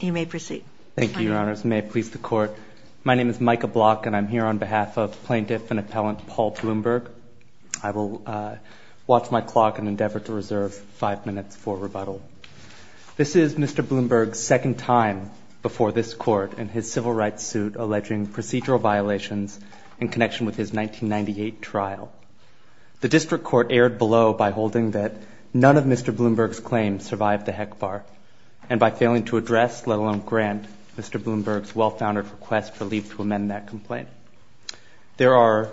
You may proceed. Thank you, Your Honors. May it please the Court, my name is Micah Block and I'm here on behalf of plaintiff and appellant Paul Blumberg. I will watch my clock and endeavor to reserve five minutes for rebuttal. This is Mr. Blumberg's second time before this Court in his civil rights suit alleging procedural violations in connection with his 1998 trial. The District Court erred below by holding that none of Mr. Blumberg's claims survived the HECBAR, and by failing to address, let alone grant, Mr. Blumberg's well-founded request for leave to amend that complaint. There are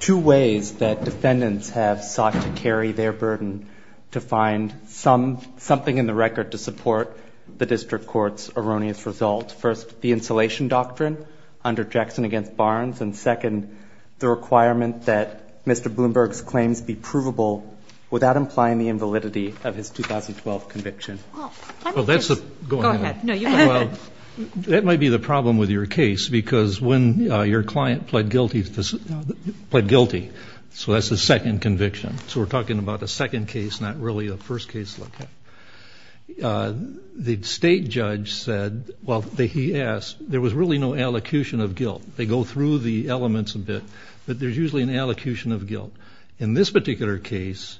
two ways that defendants have sought to carry their burden to find something in the record to support the District Court's erroneous results. First, the insulation doctrine under Jackson v. Barnes, and second, the requirement that Mr. Blumberg be acquitted of the 2012 conviction. That might be the problem with your case, because when your client pled guilty, so that's the second conviction. So we're talking about a second case, not really a first case like that. The state judge said, well, he asked, there was really no allocution of guilt. They go through the elements a bit, but there's usually an allocution of guilt. In this particular case,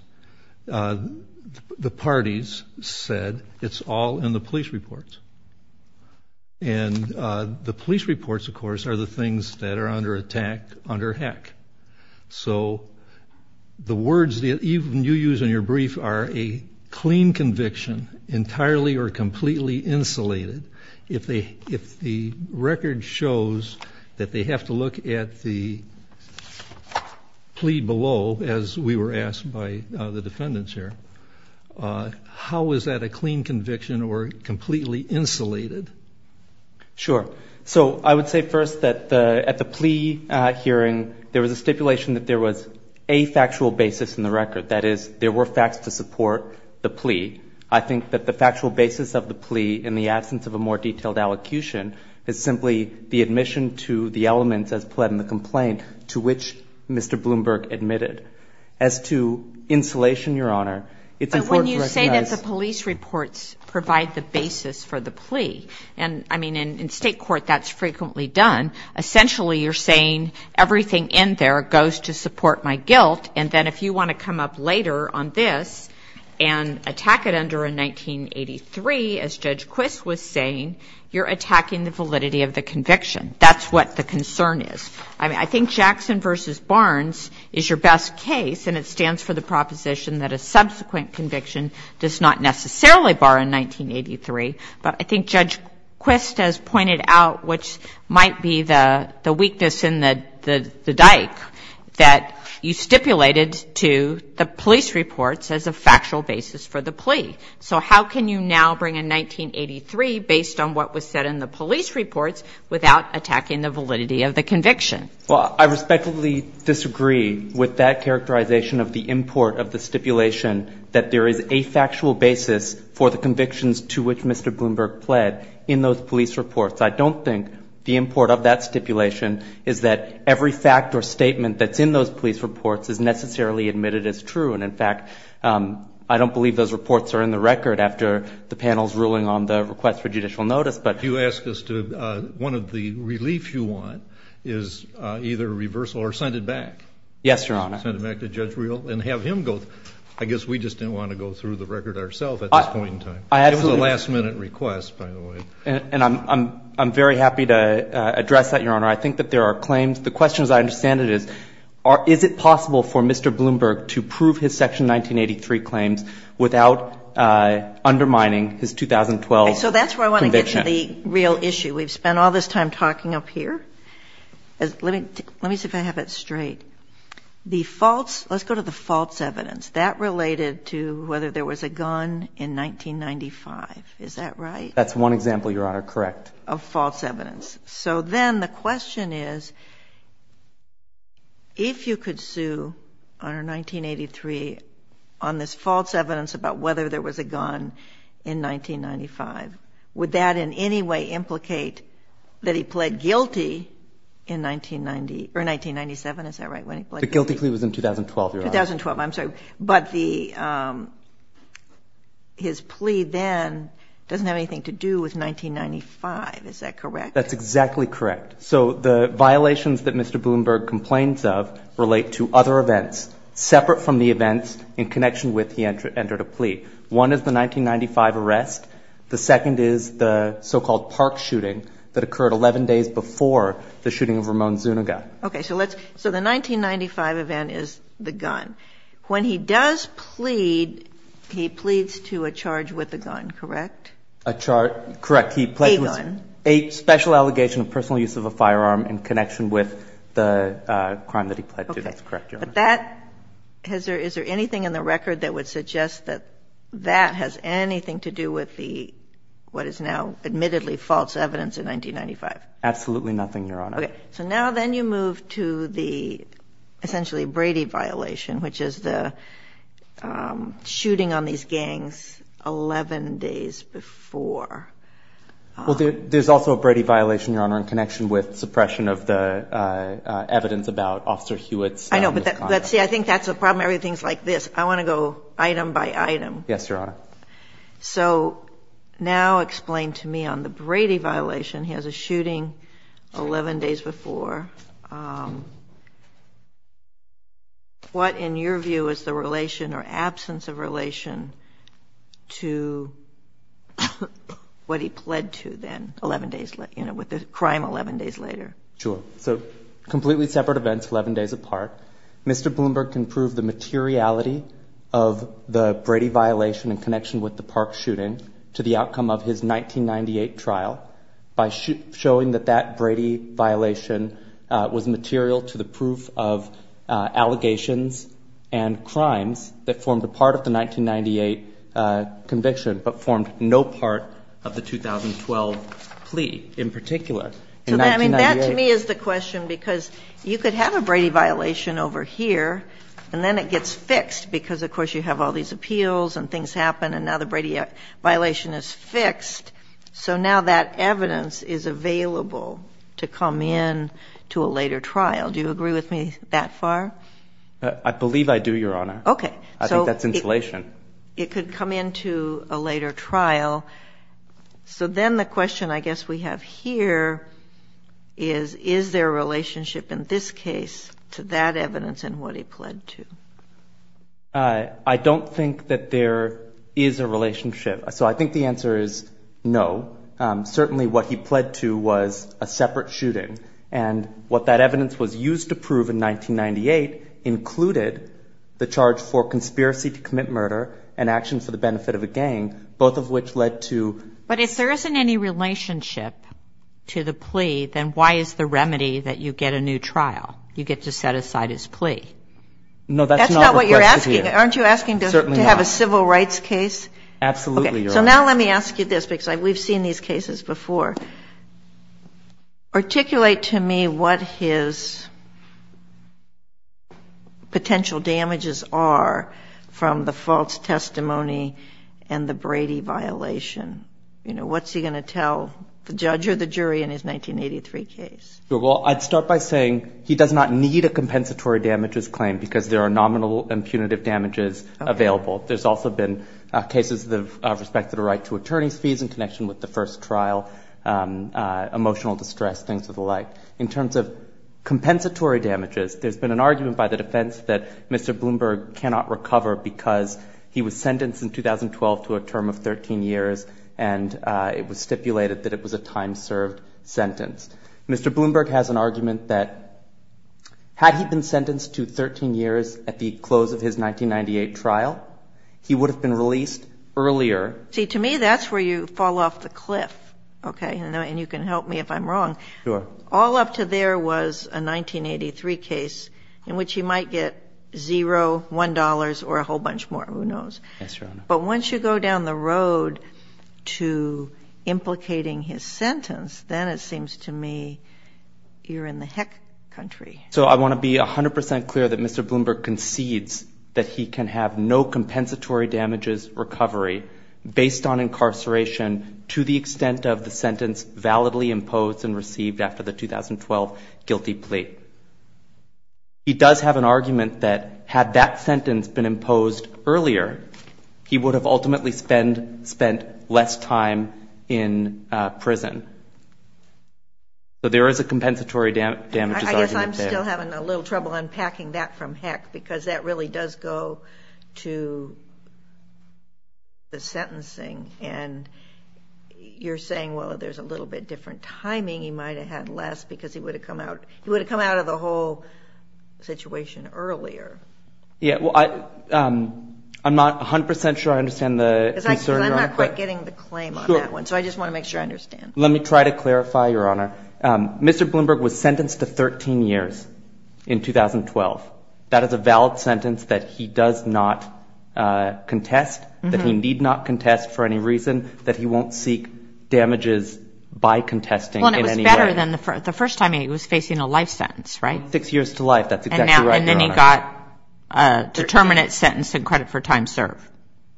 the part parties said it's all in the police reports. And the police reports, of course, are the things that are under attack, under HEC. So the words that even you use in your brief are a clean conviction, entirely or completely insulated. If the record shows that they have to look at the plea below, as we were asked by the defendants here, how is that a clean conviction or completely insulated? Sure. So I would say first that at the plea hearing, there was a stipulation that there was a factual basis in the record. That is, there were facts to support the plea. I think that the factual basis of the plea in the absence of a more detailed allocution is simply the admission to the elements as pled in the complaint to which Mr. Bloomberg admitted. As to insulation, Your Honor, it's important to recognize... But when you say that the police reports provide the basis for the plea, and I mean, in state court, that's frequently done. Essentially, you're saying everything in there goes to support my guilt. And then if you want to come up later on this and attack it under a 1983, as Judge Quist was saying, you're going to have to look at what the concern is. I think Jackson v. Barnes is your best case, and it stands for the proposition that a subsequent conviction does not necessarily bar a 1983. But I think Judge Quist has pointed out, which might be the weakness in the dike, that you stipulated to the police reports as a factual basis for the plea. So how can you now bring a 1983 based on what was said in the police reports without attacking the validity of the conviction? Well, I respectfully disagree with that characterization of the import of the stipulation that there is a factual basis for the convictions to which Mr. Bloomberg pled in those police reports. I don't think the import of that stipulation is that every fact or statement that's in those police reports is necessarily admitted as true. And in fact, I don't believe those reports are in the record after the panel's ruling on the request for judicial notice, but... If you ask us to, one of the relief you want is either reversal or send it back. Yes, Your Honor. Send it back to Judge Riehl and have him go. I guess we just didn't want to go through the record ourself at this point in time. It was a last minute request, by the way. And I'm very happy to address that, Your Honor. I think that there are claims. The question, as I understand it, is, is it possible for Mr. Bloomberg to prove his Section 1983 claims without undermining his 2012 conviction? Okay. So that's where I want to get to the real issue. We've spent all this time talking up here. Let me see if I have it straight. The false... Let's go to the false evidence. That related to whether there was a gun in 1995. Is that right? That's one example, Your Honor, correct. Of false evidence. So then the question is, if you could sue under 1983 on this false evidence about whether there was a gun in 1995, would that in any way implicate that he pled guilty in 1990 or 1997? Is that right? When he pled guilty? The guilty plea was in 2012, Your Honor. 2012. I'm sorry. But his plea then doesn't have anything to do with 1995. Is that correct? That's exactly correct. So the violations that Mr. Bloomberg complains of relate to other events separate from the events in connection with he entered a plea. One is the 1995 arrest. The second is the so-called park shooting that occurred 11 days before the shooting of Ramon Zuniga. Okay. So the 1995 event is the gun. When he does plead, he pleads to a charge with a gun, correct? A charge... Correct. He pled guilty... A gun. A special allegation of personal use of a firearm in connection with the shooting. That's correct, Your Honor. Is there anything in the record that would suggest that that has anything to do with what is now admittedly false evidence in 1995? Absolutely nothing, Your Honor. Okay. So now then you move to the essentially Brady violation, which is the shooting on these gangs 11 days before. There's also a Brady violation, Your Honor, in connection with suppression of the evidence about Officer Hewitt's... I know, but see, I think that's the problem. Everything's like this. I want to go item by item. Yes, Your Honor. So now explain to me on the Brady violation. He has a shooting 11 days before. What, in your view, is the relation or absence of relation to what he pled to then 11 days... With the crime 11 days later? Sure. So completely separate events 11 days apart. Mr. Bloomberg can prove the materiality of the Brady violation in connection with the Park shooting to the outcome of his 1998 trial by showing that that Brady violation was material to the proof of allegations and crimes that formed a part of the 2012 plea in particular in 1998. I mean, that to me is the question because you could have a Brady violation over here and then it gets fixed because, of course, you have all these appeals and things happen and now the Brady violation is fixed. So now that evidence is available to come in to a later trial. Do you agree with me that far? I believe I do, Your Honor. Okay. I think that's insulation. It could come in to a later trial. So then the question I guess we have here is, is there a relationship in this case to that evidence and what he pled to? I don't think that there is a relationship. So I think the answer is no. Certainly what he pled to was a separate shooting and what that evidence was used to prove in 1998 included the charge for conspiracy to commit murder and action for the benefit of a gang, both of which led to ---- But if there isn't any relationship to the plea, then why is the remedy that you get a new trial? You get to set aside his plea. No, that's not the question here. That's not what you're asking. Aren't you asking to have a civil rights case? Absolutely, Your Honor. Okay. So now let me ask you this because we've seen these cases before. Articulate to me what his potential damages are from the false testimony and the Brady violation. You know, what's he going to tell the judge or the jury in his 1983 case? Well, I'd start by saying he does not need a compensatory damages claim because there are nominal and punitive damages available. There's also been cases that have respected a right to attorney's fees in the first trial, emotional distress, things of the like. In terms of compensatory damages, there's been an argument by the defense that Mr. Bloomberg cannot recover because he was sentenced in 2012 to a term of 13 years, and it was stipulated that it was a time-served sentence. Mr. Bloomberg has an argument that had he been sentenced to 13 years at the close of his 1998 trial, he would have been released earlier. See, to me, that's where you fall off the cliff, okay? And you can help me if I'm wrong. Sure. All up to there was a 1983 case in which he might get zero, $1, or a whole bunch more. Who knows? Yes, Your Honor. But once you go down the road to implicating his sentence, then it seems to me you're in the heck country. So I want to be 100 percent clear that Mr. Bloomberg concedes that he can have no compensatory damages recovery based on incarceration to the extent of the sentence validly imposed and received after the 2012 guilty plea. He does have an argument that had that sentence been imposed earlier, he would have ultimately spent less time in prison. So there is a compensatory damages argument there. I guess I'm still having a little trouble unpacking that from heck, because that really does go to the sentencing. And you're saying, well, there's a little bit different timing. He might have had less because he would have come out of the whole situation earlier. Yeah. Well, I'm not 100 percent sure I understand the concern. Because I'm not quite getting the claim on that one. So I just want to make sure I understand. Let me try to clarify, Your Honor. Mr. Bloomberg was sentenced to 13 years in 2012. That is a valid sentence that he does not contest, that he need not contest for any reason, that he won't seek damages by contesting in any way. Well, and it was better than the first time he was facing a life sentence, right? Six years to life. That's exactly right, Your Honor. And then he got a determinate sentence and credit for time served.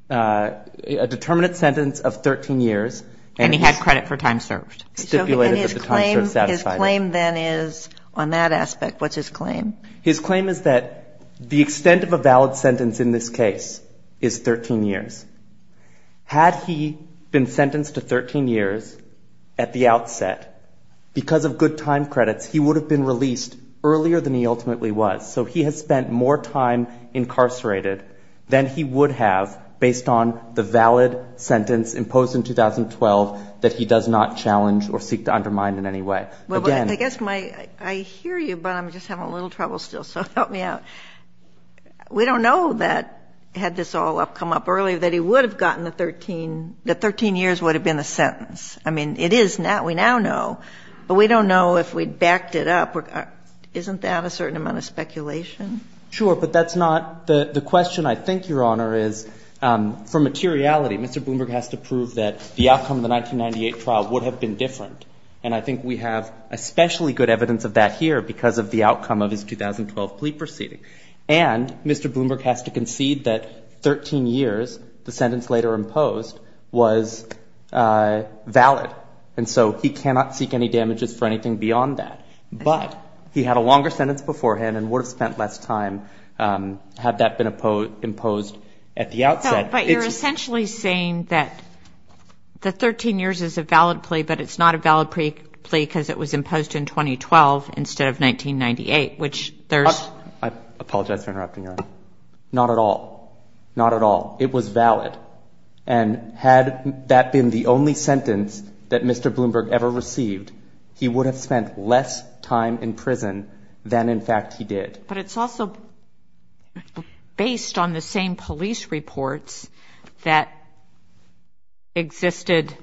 A determinate sentence of 13 years. And he had credit for time served. Stipulated that the time served satisfied it. And his claim then is on that aspect. What's his claim? His claim is that the extent of a valid sentence in this case is 13 years. Had he been sentenced to 13 years at the outset, because of good time credits, he would have been released earlier than he ultimately was. So he has spent more time incarcerated than he would have based on the valid sentence imposed in 2012 that he does not challenge or seek to undermine in any way. Well, I guess I hear you, but I'm just having a little trouble still. So help me out. We don't know that, had this all come up earlier, that he would have gotten the 13, that 13 years would have been the sentence. I mean, it is now. We now know. But we don't know if we backed it up. Isn't that a certain amount of speculation? Sure. But that's not the question, I think, Your Honor, is for materiality. Mr. Bloomberg has to prove that the outcome of the 1998 trial would have been different. And I think we have especially good evidence of that here because of the outcome of his 2012 plea proceeding. And Mr. Bloomberg has to concede that 13 years, the sentence later imposed, was valid. And so he cannot seek any damages for anything beyond that. But he had a longer sentence beforehand and would have spent less time had that been imposed at the outset. But you're essentially saying that the 13 years is a valid plea, but it's not a valid plea because it was imposed in 2012 instead of 1998, which there's... I apologize for interrupting, Your Honor. Not at all. Not at all. It was valid. And had that been the only sentence that Mr. Bloomberg ever received, he would have spent less time in prison than, in fact, he did. But it's also based on the same police reports that existed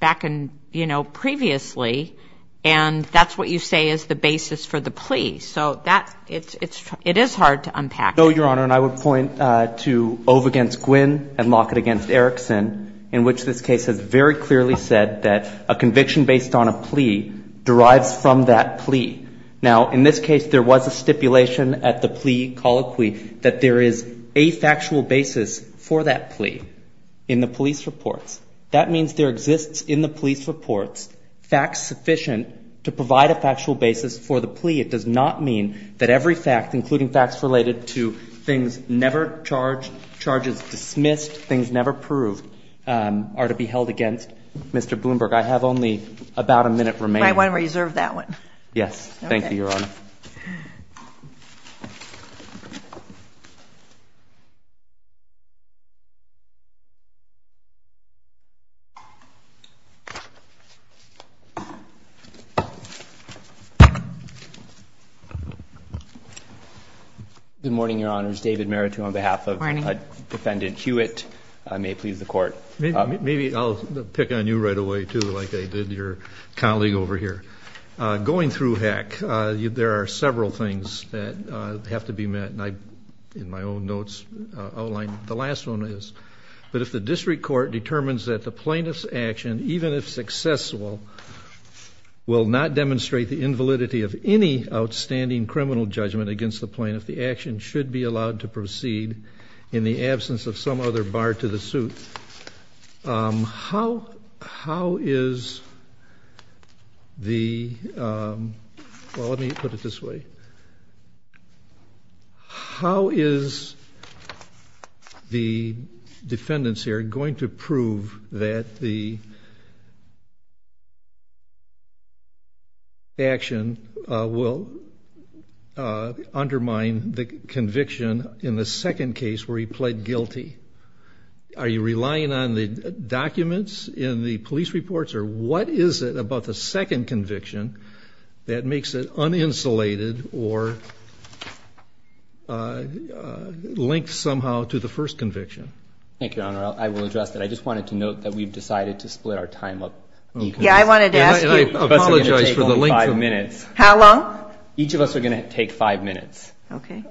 back in, you know, previously. And that's what you say is the basis for the plea. So it is hard to unpack. No, Your Honor. And I would point to Ove v. Gwynn and Lockett v. Erickson, in which this case has very clearly said that a conviction based on a plea derives from that plea. Now, in this case, there was a stipulation at the plea colloquy that there is a factual basis for that plea in the police reports. That means there exists in the police reports facts sufficient to provide a factual basis for the plea. It does not mean that every fact, including facts related to things never charged, charges dismissed, things never proved, are to be held against Mr. Bloomberg. I have only about a minute remaining. I want to reserve that one. Yes. Thank you, Your Honor. Good morning, Your Honors. David Meritu on behalf of Defendant Hewitt. I may please the Court. Maybe I'll pick on you right away, too, like I did your colleague over here. Going through HECC, there are several things that have to be met, and I, in my own notes, outlined the last one is. But if the district court determines that the plaintiff's action, even if successful, will not demonstrate the invalidity of any outstanding criminal judgment against the plaintiff, the action should be allowed to proceed in the absence of some other bar to the suit. How is the, well, let me put it this way. How is the defendants here going to prove that the action will undermine the conviction in the second case where he pled guilty? Are you relying on the documents in the police reports, or what is it about the second conviction that makes it uninsulated or linked somehow to the first conviction? Thank you, Your Honor. I will address that. I just wanted to note that we've decided to split our time up. Yeah, I wanted to ask you. And I apologize for the length. It's going to take only five minutes. How long? Each of us are going to take five minutes. Okay.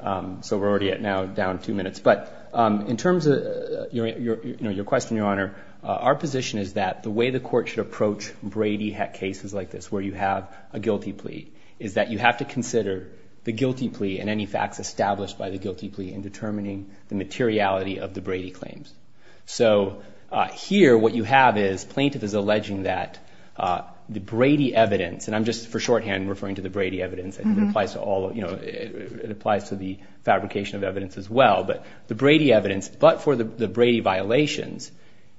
So we're already at now down two minutes. But in terms of your question, Your Honor, our position is that the way the court should approach Brady cases like this where you have a guilty plea is that you have to consider the guilty plea and any facts established by the guilty plea in determining the materiality of the Brady claims. So here what you have is plaintiff is alleging that the Brady evidence, and I'm just for shorthand referring to the Brady evidence. It applies to the fabrication of evidence as well. But the Brady evidence, but for the Brady violations,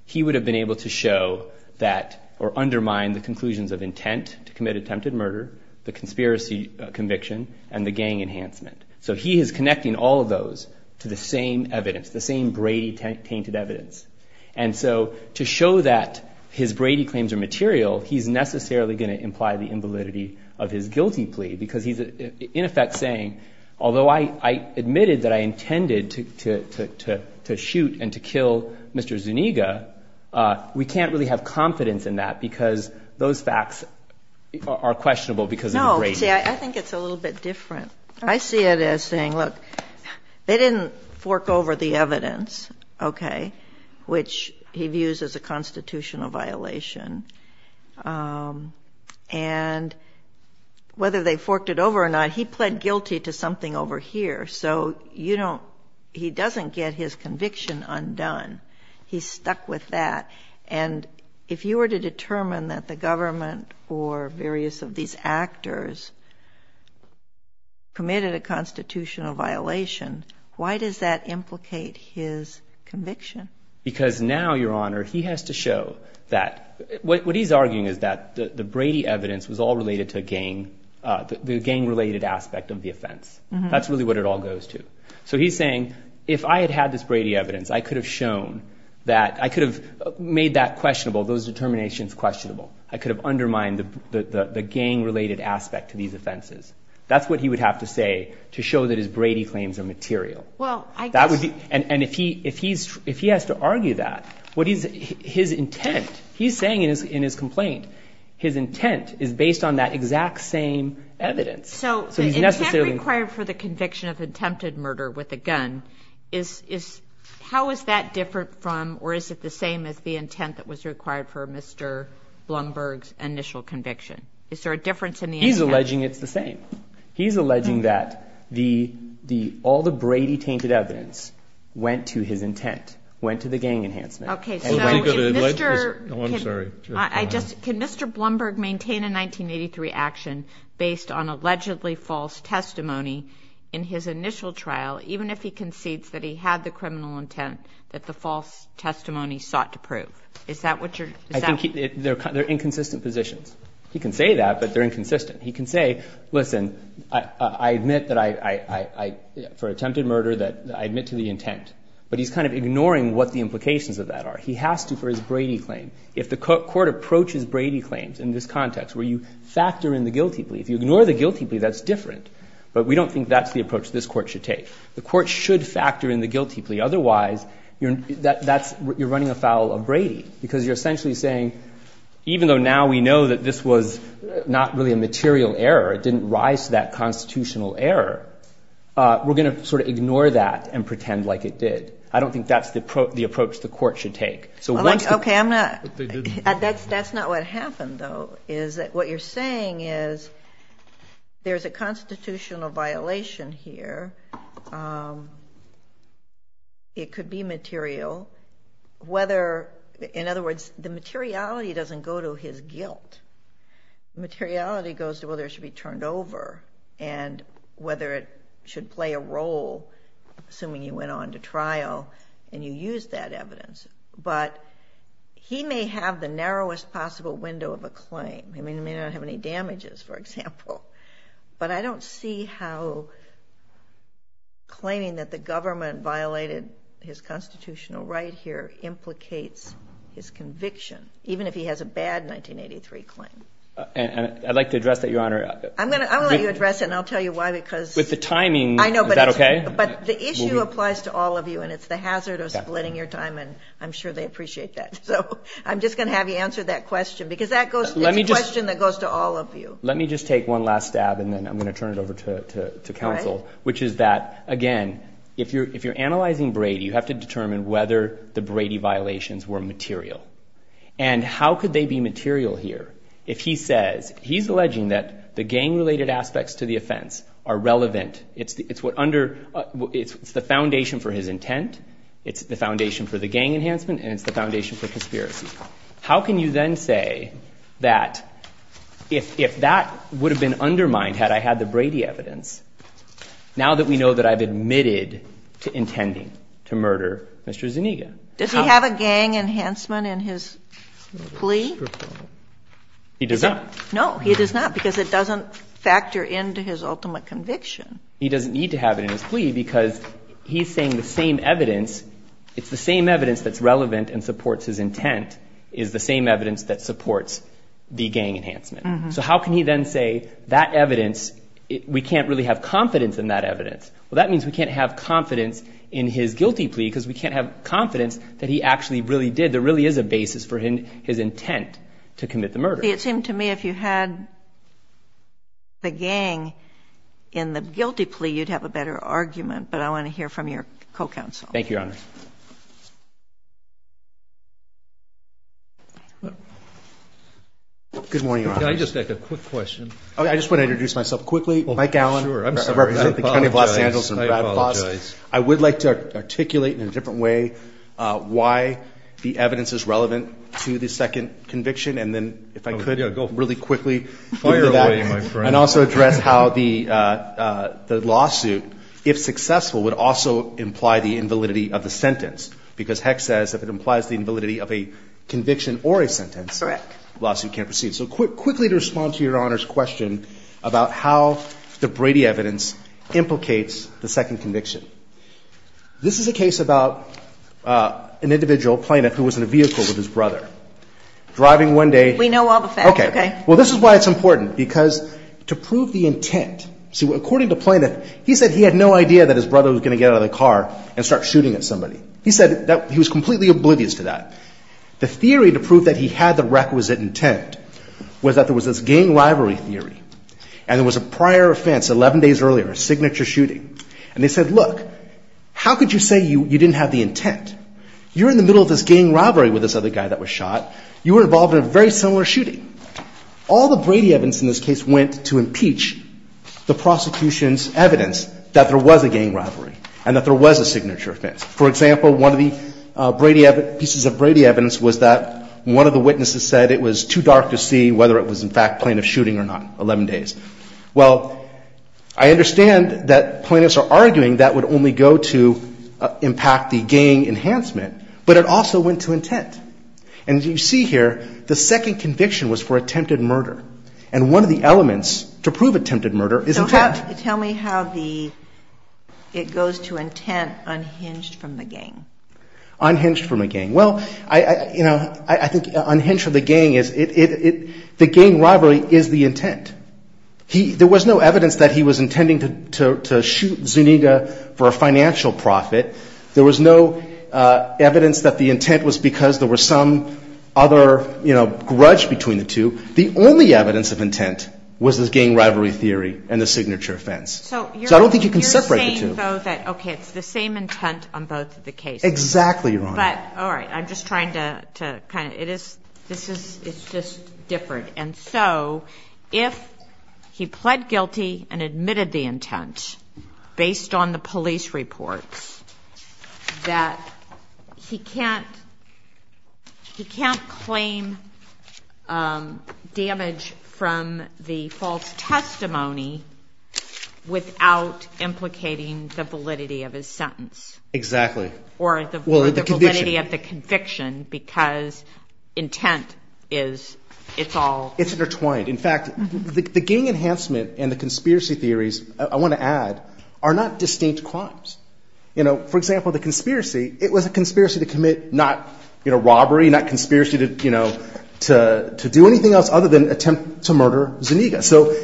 he would have been able to show that or undermine the conclusions of intent to commit attempted murder, the conspiracy conviction, and the gang enhancement. So he is connecting all of those to the same evidence, the same Brady tainted evidence. And so to show that his Brady claims are material, he's necessarily going to imply the invalidity of his guilty plea because he's in effect saying, although I admitted that I intended to shoot and to kill Mr. Zuniga, we can't really have confidence in that because those facts are questionable because of the Brady. No, see, I think it's a little bit different. I see it as saying, look, they didn't fork over the evidence, okay, which he views as a constitutional violation. And whether they forked it over or not, he pled guilty to something over here. So he doesn't get his conviction undone. He's stuck with that. And if you were to determine that the government or various of these actors committed a constitutional violation, why does that implicate his conviction? Because now, Your Honor, he has to show that what he's arguing is that the Brady evidence was all related to the gang-related aspect of the offense. That's really what it all goes to. So he's saying, if I had had this Brady evidence, I could have shown that I could have made that questionable, those determinations questionable. I could have undermined the gang-related aspect to these offenses. That's what he would have to say to show that his Brady claims are material. And if he has to argue that, his intent, he's saying in his complaint, his intent is based on that exact same evidence. So the intent required for the conviction of attempted murder with a gun, how is that different from or is it the same as the intent that was required for Mr. Blumberg's initial conviction? Is there a difference in the intent? He's alleging it's the same. He's alleging that all the Brady-tainted evidence went to his intent, went to the gang enhancement. Okay, so can Mr. Blumberg maintain a 1983 action based on allegedly false testimony in his initial trial, even if he concedes that he had the criminal intent that the false testimony sought to prove? Is that what you're saying? I think they're inconsistent positions. He can say that, but they're inconsistent. He can say, listen, I admit that I, for attempted murder, that I admit to the intent. But he's kind of ignoring what the implications of that are. He has to for his Brady claim. If the court approaches Brady claims in this context where you factor in the guilty plea, if you ignore the guilty plea, that's different. But we don't think that's the approach this court should take. The court should factor in the guilty plea. Otherwise, you're running afoul of Brady because you're essentially saying, even though now we know that this was not really a material error, it didn't rise to that constitutional error, we're going to sort of ignore that and pretend like it did. I don't think that's the approach the court should take. Okay, that's not what happened, though, is that what you're saying is there's a constitutional violation here. It could be material. In other words, the materiality doesn't go to his guilt. Materiality goes to whether it should be turned over and whether it should play a role, assuming you went on to trial and you used that evidence. But he may have the narrowest possible window of a claim. He may not have any damages, for example. But I don't see how claiming that the government violated his constitutional right here implicates his conviction, even if he has a bad 1983 claim. I'd like to address that, Your Honor. I'm going to let you address it, and I'll tell you why. With the timing, is that okay? I know, but the issue applies to all of you, and it's the hazard of splitting your time, and I'm sure they appreciate that. So I'm just going to have you answer that question because it's a question that goes to all of you. Let me just take one last stab, and then I'm going to turn it over to counsel, which is that, again, if you're analyzing Brady, you have to determine whether the Brady violations were material. And how could they be material here? If he says he's alleging that the gang-related aspects to the offense are relevant, it's the foundation for his intent, it's the foundation for the gang enhancement, and it's the foundation for conspiracy. How can you then say that if that would have been undermined had I had the Brady evidence, now that we know that I've admitted to intending to murder Mr. Zuniga? Does he have a gang enhancement in his plea? He does not. No, he does not, because it doesn't factor into his ultimate conviction. He doesn't need to have it in his plea because he's saying the same evidence that's relevant and supports his intent is the same evidence that supports the gang enhancement. So how can he then say that evidence, we can't really have confidence in that evidence? Well, that means we can't have confidence in his guilty plea because we can't have confidence that he actually really did. There really is a basis for his intent to commit the murder. It seemed to me if you had the gang in the guilty plea, you'd have a better argument, but I want to hear from your co-counsel. Thank you, Your Honor. Good morning, Your Honor. Can I just ask a quick question? I just want to introduce myself quickly. Mike Allen. I'm sorry. I apologize. I would like to articulate in a different way why the evidence is relevant to the second conviction, and then if I could really quickly get to that. Fire away, my friend. And also address how the lawsuit, if successful, would also imply the invalidity of the sentence, because Heck says if it implies the invalidity of a conviction or a sentence, the lawsuit can't proceed. So quickly to respond to Your Honor's question about how the Brady evidence implicates the second conviction. This is a case about an individual plaintiff who was in a vehicle with his brother driving one day. We know all the facts. Okay. Well, this is why it's important, because to prove the intent. See, according to Plaintiff, he said he had no idea that his brother was going to get out of the car and start shooting at somebody. He said that he was completely oblivious to that. The theory to prove that he had the requisite intent was that there was this gang rivalry theory, and there was a prior offense 11 days earlier, a signature shooting. And they said, look, how could you say you didn't have the intent? You're in the middle of this gang rivalry with this other guy that was shot. You were involved in a very similar shooting. All the Brady evidence in this case went to impeach the prosecution's evidence that there was a gang rivalry and that there was a signature offense. For example, one of the pieces of Brady evidence was that one of the witnesses said it was too dark to see whether it was, in fact, plaintiff shooting or not, 11 days. Well, I understand that plaintiffs are arguing that would only go to impact the gang enhancement, but it also went to intent. And as you see here, the second conviction was for attempted murder. And one of the elements to prove attempted murder is intent. So tell me how it goes to intent unhinged from the gang. Unhinged from the gang. Well, I think unhinged from the gang is the gang rivalry is the intent. There was no evidence that he was intending to shoot Zuniga for a financial profit. There was no evidence that the intent was because there was some other, you know, grudge between the two. The only evidence of intent was the gang rivalry theory and the signature offense. So I don't think you can separate the two. So you're saying, though, that, okay, it's the same intent on both of the cases. Exactly, Your Honor. But, all right, I'm just trying to kind of, it is, this is, it's just different. And so if he pled guilty and admitted the intent based on the police reports, that he can't, he can't claim damage from the false testimony without implicating the validity of his sentence. Exactly. Or the validity of the conviction because intent is, it's all. It's intertwined. In fact, the gang enhancement and the conspiracy theories, I want to add, are not distinct crimes. You know, for example, the conspiracy, it was a conspiracy to commit not, you know, robbery, not conspiracy to, you know, to do anything else other than attempt to murder Zuniga. So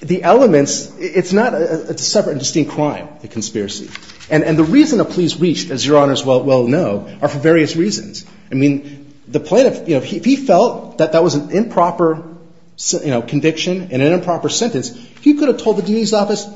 the elements, it's not a separate and distinct crime, the conspiracy. And the reason the police reached, as Your Honor's well know, are for various reasons. I mean, the plaintiff, you know, he felt that that was an improper, you know, conviction and an improper sentence. He could have told the dean's office,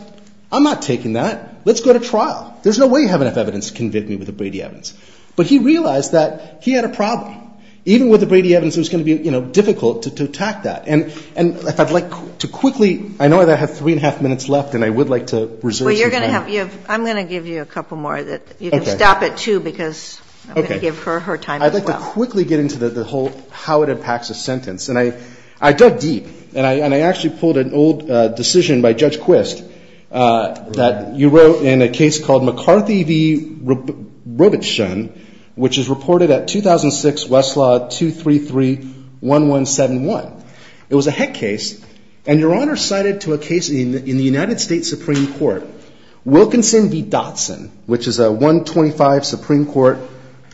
I'm not taking that. Let's go to trial. There's no way you have enough evidence to convict me with a Brady-Evans. But he realized that he had a problem. Even with a Brady-Evans, it was going to be, you know, difficult to attack that. And if I'd like to quickly, I know that I have three and a half minutes left and I would like to reserve some time. Well, you're going to have, I'm going to give you a couple more. You can stop at two because I'm going to give her her time as well. I'd like to quickly get into the whole how it impacts a sentence. And I dug deep. And I actually pulled an old decision by Judge Quist that you wrote in a case called McCarthy v. Robichon, which is reported at 2006 Westlaw 233-1171. It was a heck case. And Your Honor cited to a case in the United States Supreme Court, Wilkinson v. Dotson, which is a 125 Supreme Court,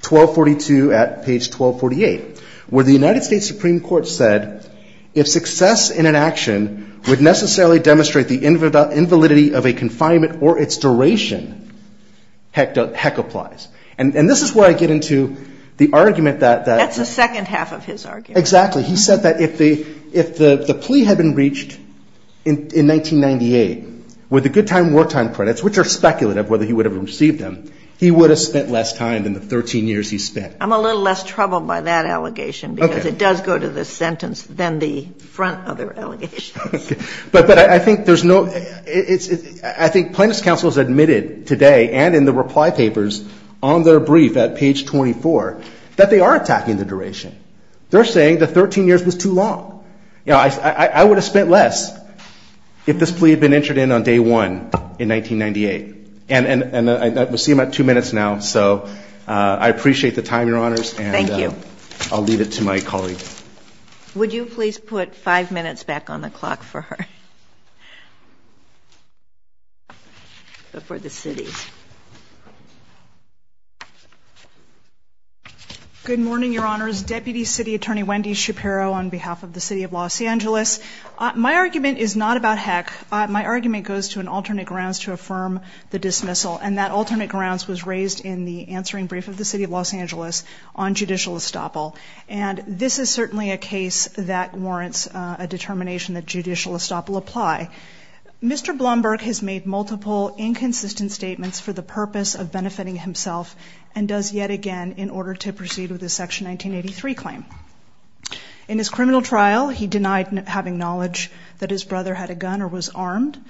1242 at page 1248, where the United States Supreme Court said, if success in an action would necessarily demonstrate the invalidity of a confinement or its duration, heck applies. And this is where I get into the argument that. That's the second half of his argument. Exactly. He said that if the plea had been reached in 1998 with the good time, wartime credits, which are speculative whether he would have received them, he would have spent less time than the 13 years he spent. I'm a little less troubled by that allegation. Okay. Because it does go to the sentence than the front other allegations. Okay. But I think there's no. I think Plaintiff's counsel has admitted today and in the reply papers on their brief at page 24 that they are attacking the duration. They're saying the 13 years was too long. You know, I would have spent less if this plea had been entered in on day 1 in 1998. Okay. And we'll see about two minutes now. So I appreciate the time, Your Honors. Thank you. And I'll leave it to my colleague. Would you please put five minutes back on the clock for her? For the city. Good morning, Your Honors. Deputy City Attorney Wendy Shapiro on behalf of the City of Los Angeles. My argument is not about heck. My argument goes to an alternate grounds to affirm the dismissal. And that alternate grounds was raised in the answering brief of the City of Los Angeles on judicial estoppel. And this is certainly a case that warrants a determination that judicial estoppel apply. Mr. Blumberg has made multiple inconsistent statements for the purpose of benefiting himself and does yet again in order to proceed with the Section 1983 claim. In his criminal trial, he denied having knowledge that his brother had a gun or was armed.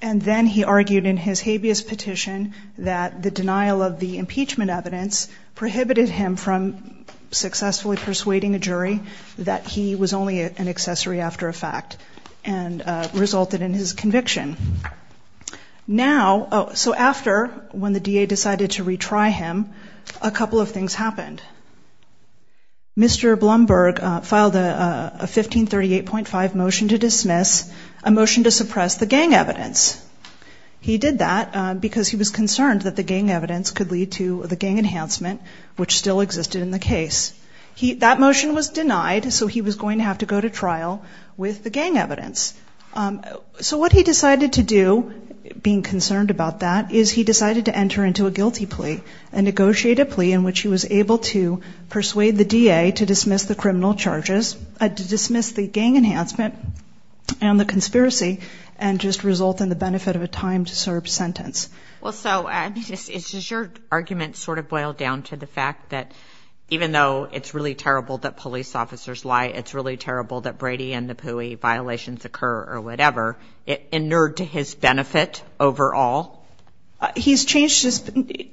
And then he argued in his habeas petition that the denial of the impeachment evidence prohibited him from successfully persuading a jury that he was only an accessory after a fact and resulted in his conviction. Now, so after when the DA decided to retry him, a couple of things happened. Mr. Blumberg filed a 1538.5 motion to dismiss, a motion to suppress the gang evidence. He did that because he was concerned that the gang evidence could lead to the gang enhancement, which still existed in the case. That motion was denied, so he was going to have to go to trial with the gang evidence. So what he decided to do, being concerned about that, is he decided to enter into a guilty plea and negotiate a plea in which he was able to persuade the DA to dismiss the criminal charges, to dismiss the gang enhancement and the conspiracy and just result in the benefit of a time-served sentence. Well, so is your argument sort of boiled down to the fact that even though it's really terrible that police officers lie, it's really terrible that Brady and Napoui violations occur or whatever, inured to his benefit overall? He's changed his,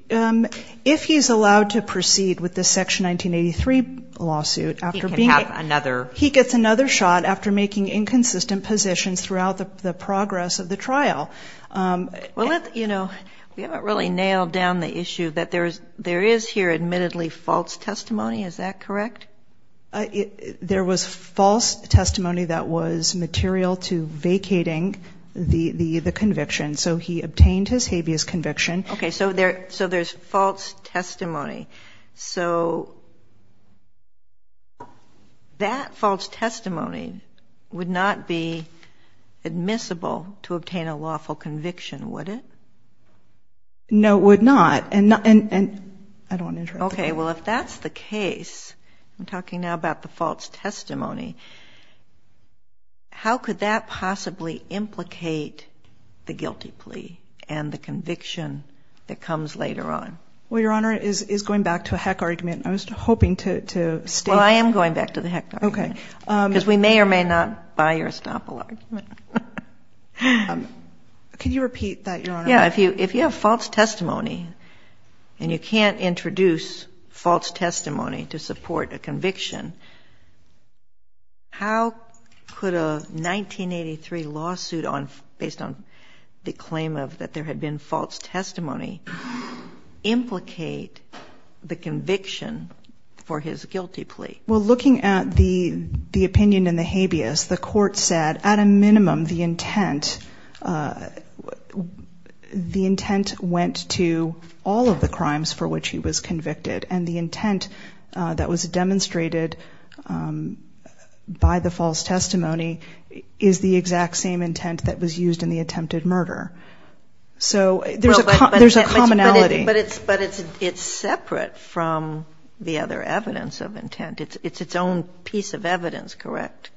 if he's allowed to proceed with the Section 1983 lawsuit after being, he gets another shot after making inconsistent positions throughout the progress of the trial. Well, you know, we haven't really nailed down the issue that there is here admittedly false testimony. Is that correct? There was false testimony that was material to vacating the conviction. So he obtained his habeas conviction. Okay. So there's false testimony. So that false testimony would not be admissible to obtain a lawful conviction, would it? No, it would not. And I don't want to interrupt. Okay. Well, if that's the case, I'm talking now about the false testimony, how could that possibly implicate the guilty plea and the conviction that comes later on? Well, Your Honor, it is going back to a heck argument. I was hoping to state that. Well, I am going back to the heck argument. Okay. Because we may or may not buy your estoppel argument. Could you repeat that, Your Honor? Yeah. If you have false testimony and you can't introduce false testimony to support a conviction, how could a 1983 lawsuit based on the claim that there had been false testimony implicate the conviction for his guilty plea? Well, looking at the opinion in the habeas, the court said at a minimum the intent went to all of the crimes for which he was convicted. And the intent that was demonstrated by the false testimony is the exact same intent that was used in the attempted murder. So there's a commonality. But it's separate from the other evidence of intent. It's its own piece of evidence, correct?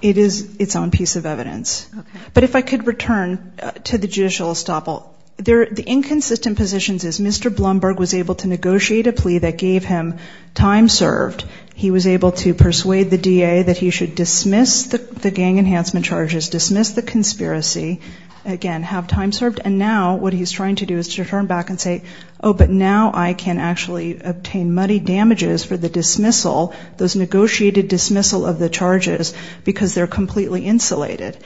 It is its own piece of evidence. Okay. But if I could return to the judicial estoppel. The inconsistent positions is Mr. Blumberg was able to negotiate a plea that gave him time served. He was able to persuade the DA that he should dismiss the gang enhancement charges, dismiss the conspiracy, again, have time served, and now what he's trying to do is to turn back and say, oh, but now I can actually obtain money damages for the dismissal, those negotiated dismissal of the charges, because they're completely insulated.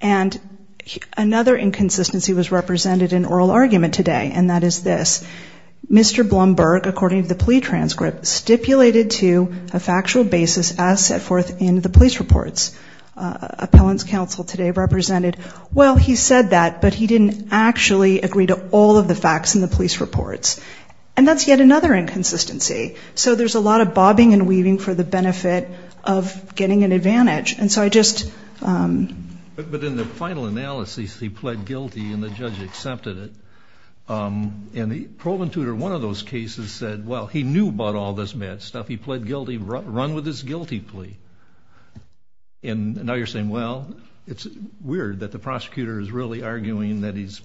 And another inconsistency was represented in oral argument today, and that is this. Mr. Blumberg, according to the plea transcript, stipulated to a factual basis as set forth in the police reports. Appellant's counsel today represented, well, he said that, but he didn't actually agree to all of the facts in the police reports. And that's yet another inconsistency. So there's a lot of bobbing and weaving for the benefit of getting an advantage. And so I just. But in the final analysis, he pled guilty and the judge accepted it. And the proven tutor, one of those cases said, well, he knew about all this mad stuff. He pled guilty. Run with this guilty plea. And now you're saying, well, it's weird that the prosecutor is really arguing that he's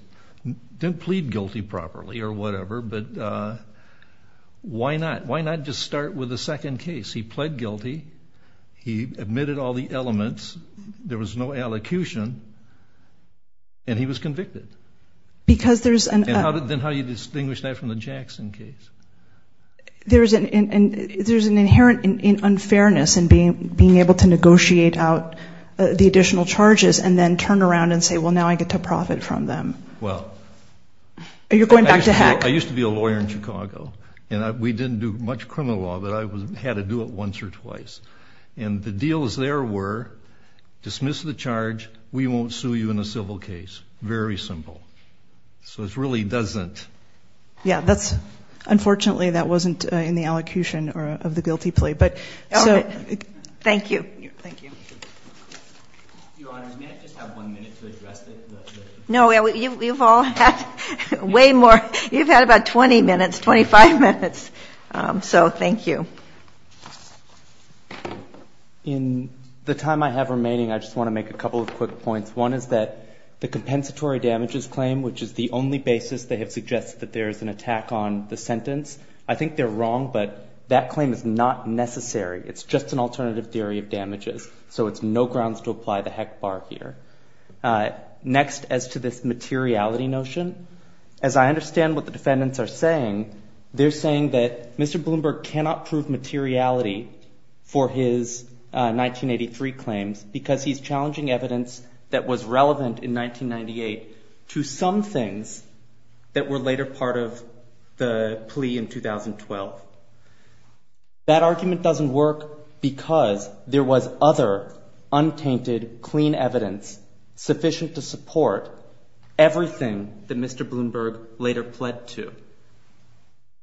didn't plead guilty properly or whatever. But why not? Why not just start with the second case? He pled guilty. He admitted all the elements. There was no allocution. And he was convicted. Because there's. Then how do you distinguish that from the Jackson case? There's an inherent unfairness in being able to negotiate out the additional charges and then turn around and say, well, now I get to profit from them. Well. I used to be a lawyer in Chicago. And we didn't do much criminal law, but I had to do it once or twice. And the deals there were dismiss the charge. We won't sue you in a civil case. Very simple. So it really doesn't. Yeah, that's. Unfortunately, that wasn't in the allocution of the guilty plea. But so. Thank you. Thank you. Your Honor, may I just have one minute to address this? No, you've all had way more. You've had about 20 minutes, 25 minutes. So thank you. In the time I have remaining, I just want to make a couple of quick points. One is that the compensatory damages claim, which is the only basis they have suggested that there is an attack on the sentence. I think they're wrong, but that claim is not necessary. It's just an alternative theory of damages. So it's no grounds to apply the heck bar here. Next, as to this materiality notion. As I understand what the defendants are saying, they're saying that Mr. Bloomberg cannot prove materiality for his 1983 claims because he's challenging evidence that was relevant in 1998 to some things that were later part of the plea in 2012. That argument doesn't work because there was other untainted, clean evidence sufficient to support everything that Mr. Bloomberg later pled to.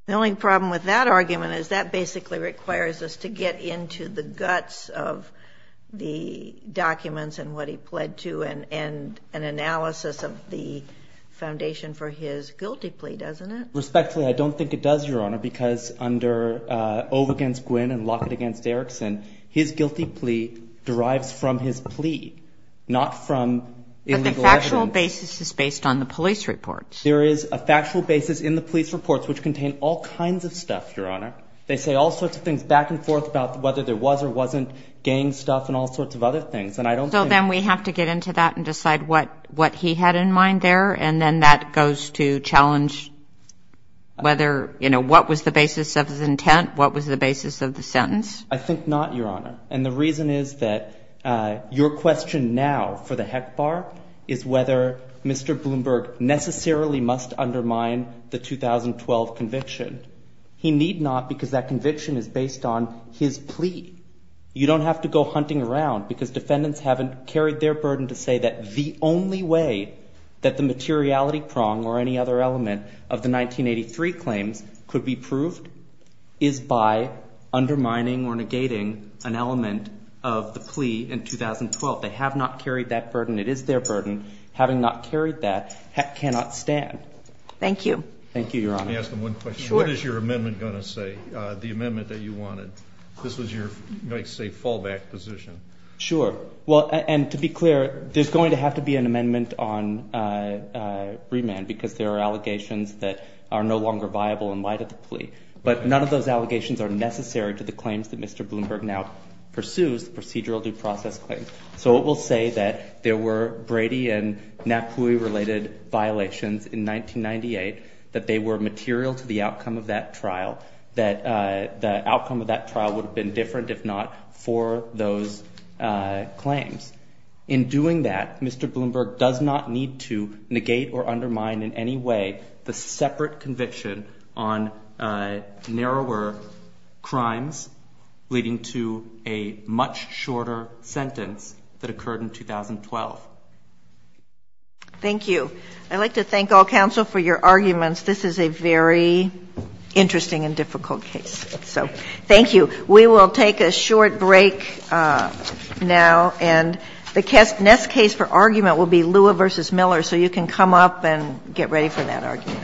The only problem with that argument is that basically requires us to get into the guts of the documents and what he pled to and an analysis of the foundation for his guilty plea, doesn't it? Respectfully, I don't think it does, Your Honor, because under Ove against Gwinn and Lockett against Erickson, his guilty plea derives from his plea, not from illegal evidence. But the factual basis is based on the police reports. There is a factual basis in the police reports, which contain all kinds of stuff, Your Honor. They say all sorts of things back and forth about whether there was or wasn't gang stuff and all sorts of other things. So then we have to get into that and decide what he had in mind there, and then that goes to challenge whether, you know, what was the basis of his intent, what was the basis of the sentence? I think not, Your Honor. And the reason is that your question now for the HECBAR is whether Mr. Bloomberg necessarily must undermine the 2012 conviction. He need not because that conviction is based on his plea. You don't have to go hunting around because defendants haven't carried their burden to say that the only way that the materiality prong or any other element of the 1983 claims could be proved is by undermining or negating an element of the plea in 2012. They have not carried that burden. It is their burden. Having not carried that, HEC cannot stand. Thank you. Thank you, Your Honor. Let me ask them one question. Sure. What is your amendment going to say, the amendment that you wanted? This was your, you might say, fallback position. Sure. Well, and to be clear, there's going to have to be an amendment on remand because there are allegations that are no longer viable in light of the plea. But none of those allegations are necessary to the claims that Mr. Bloomberg now pursues, procedural due process claims. So it will say that there were Brady and Napui-related violations in 1998, that they were material to the outcome of that trial, that the outcome of that trial would have been different if not for those claims. In doing that, Mr. Bloomberg does not need to negate or undermine in any way the separate conviction on narrower crimes leading to a much shorter sentence that occurred in 2012. Thank you. I'd like to thank all counsel for your arguments. This is a very interesting and difficult case. So thank you. We will take a short break now. And the next case for argument will be Lua v. Miller. So you can come up and get ready for that argument. Thank you.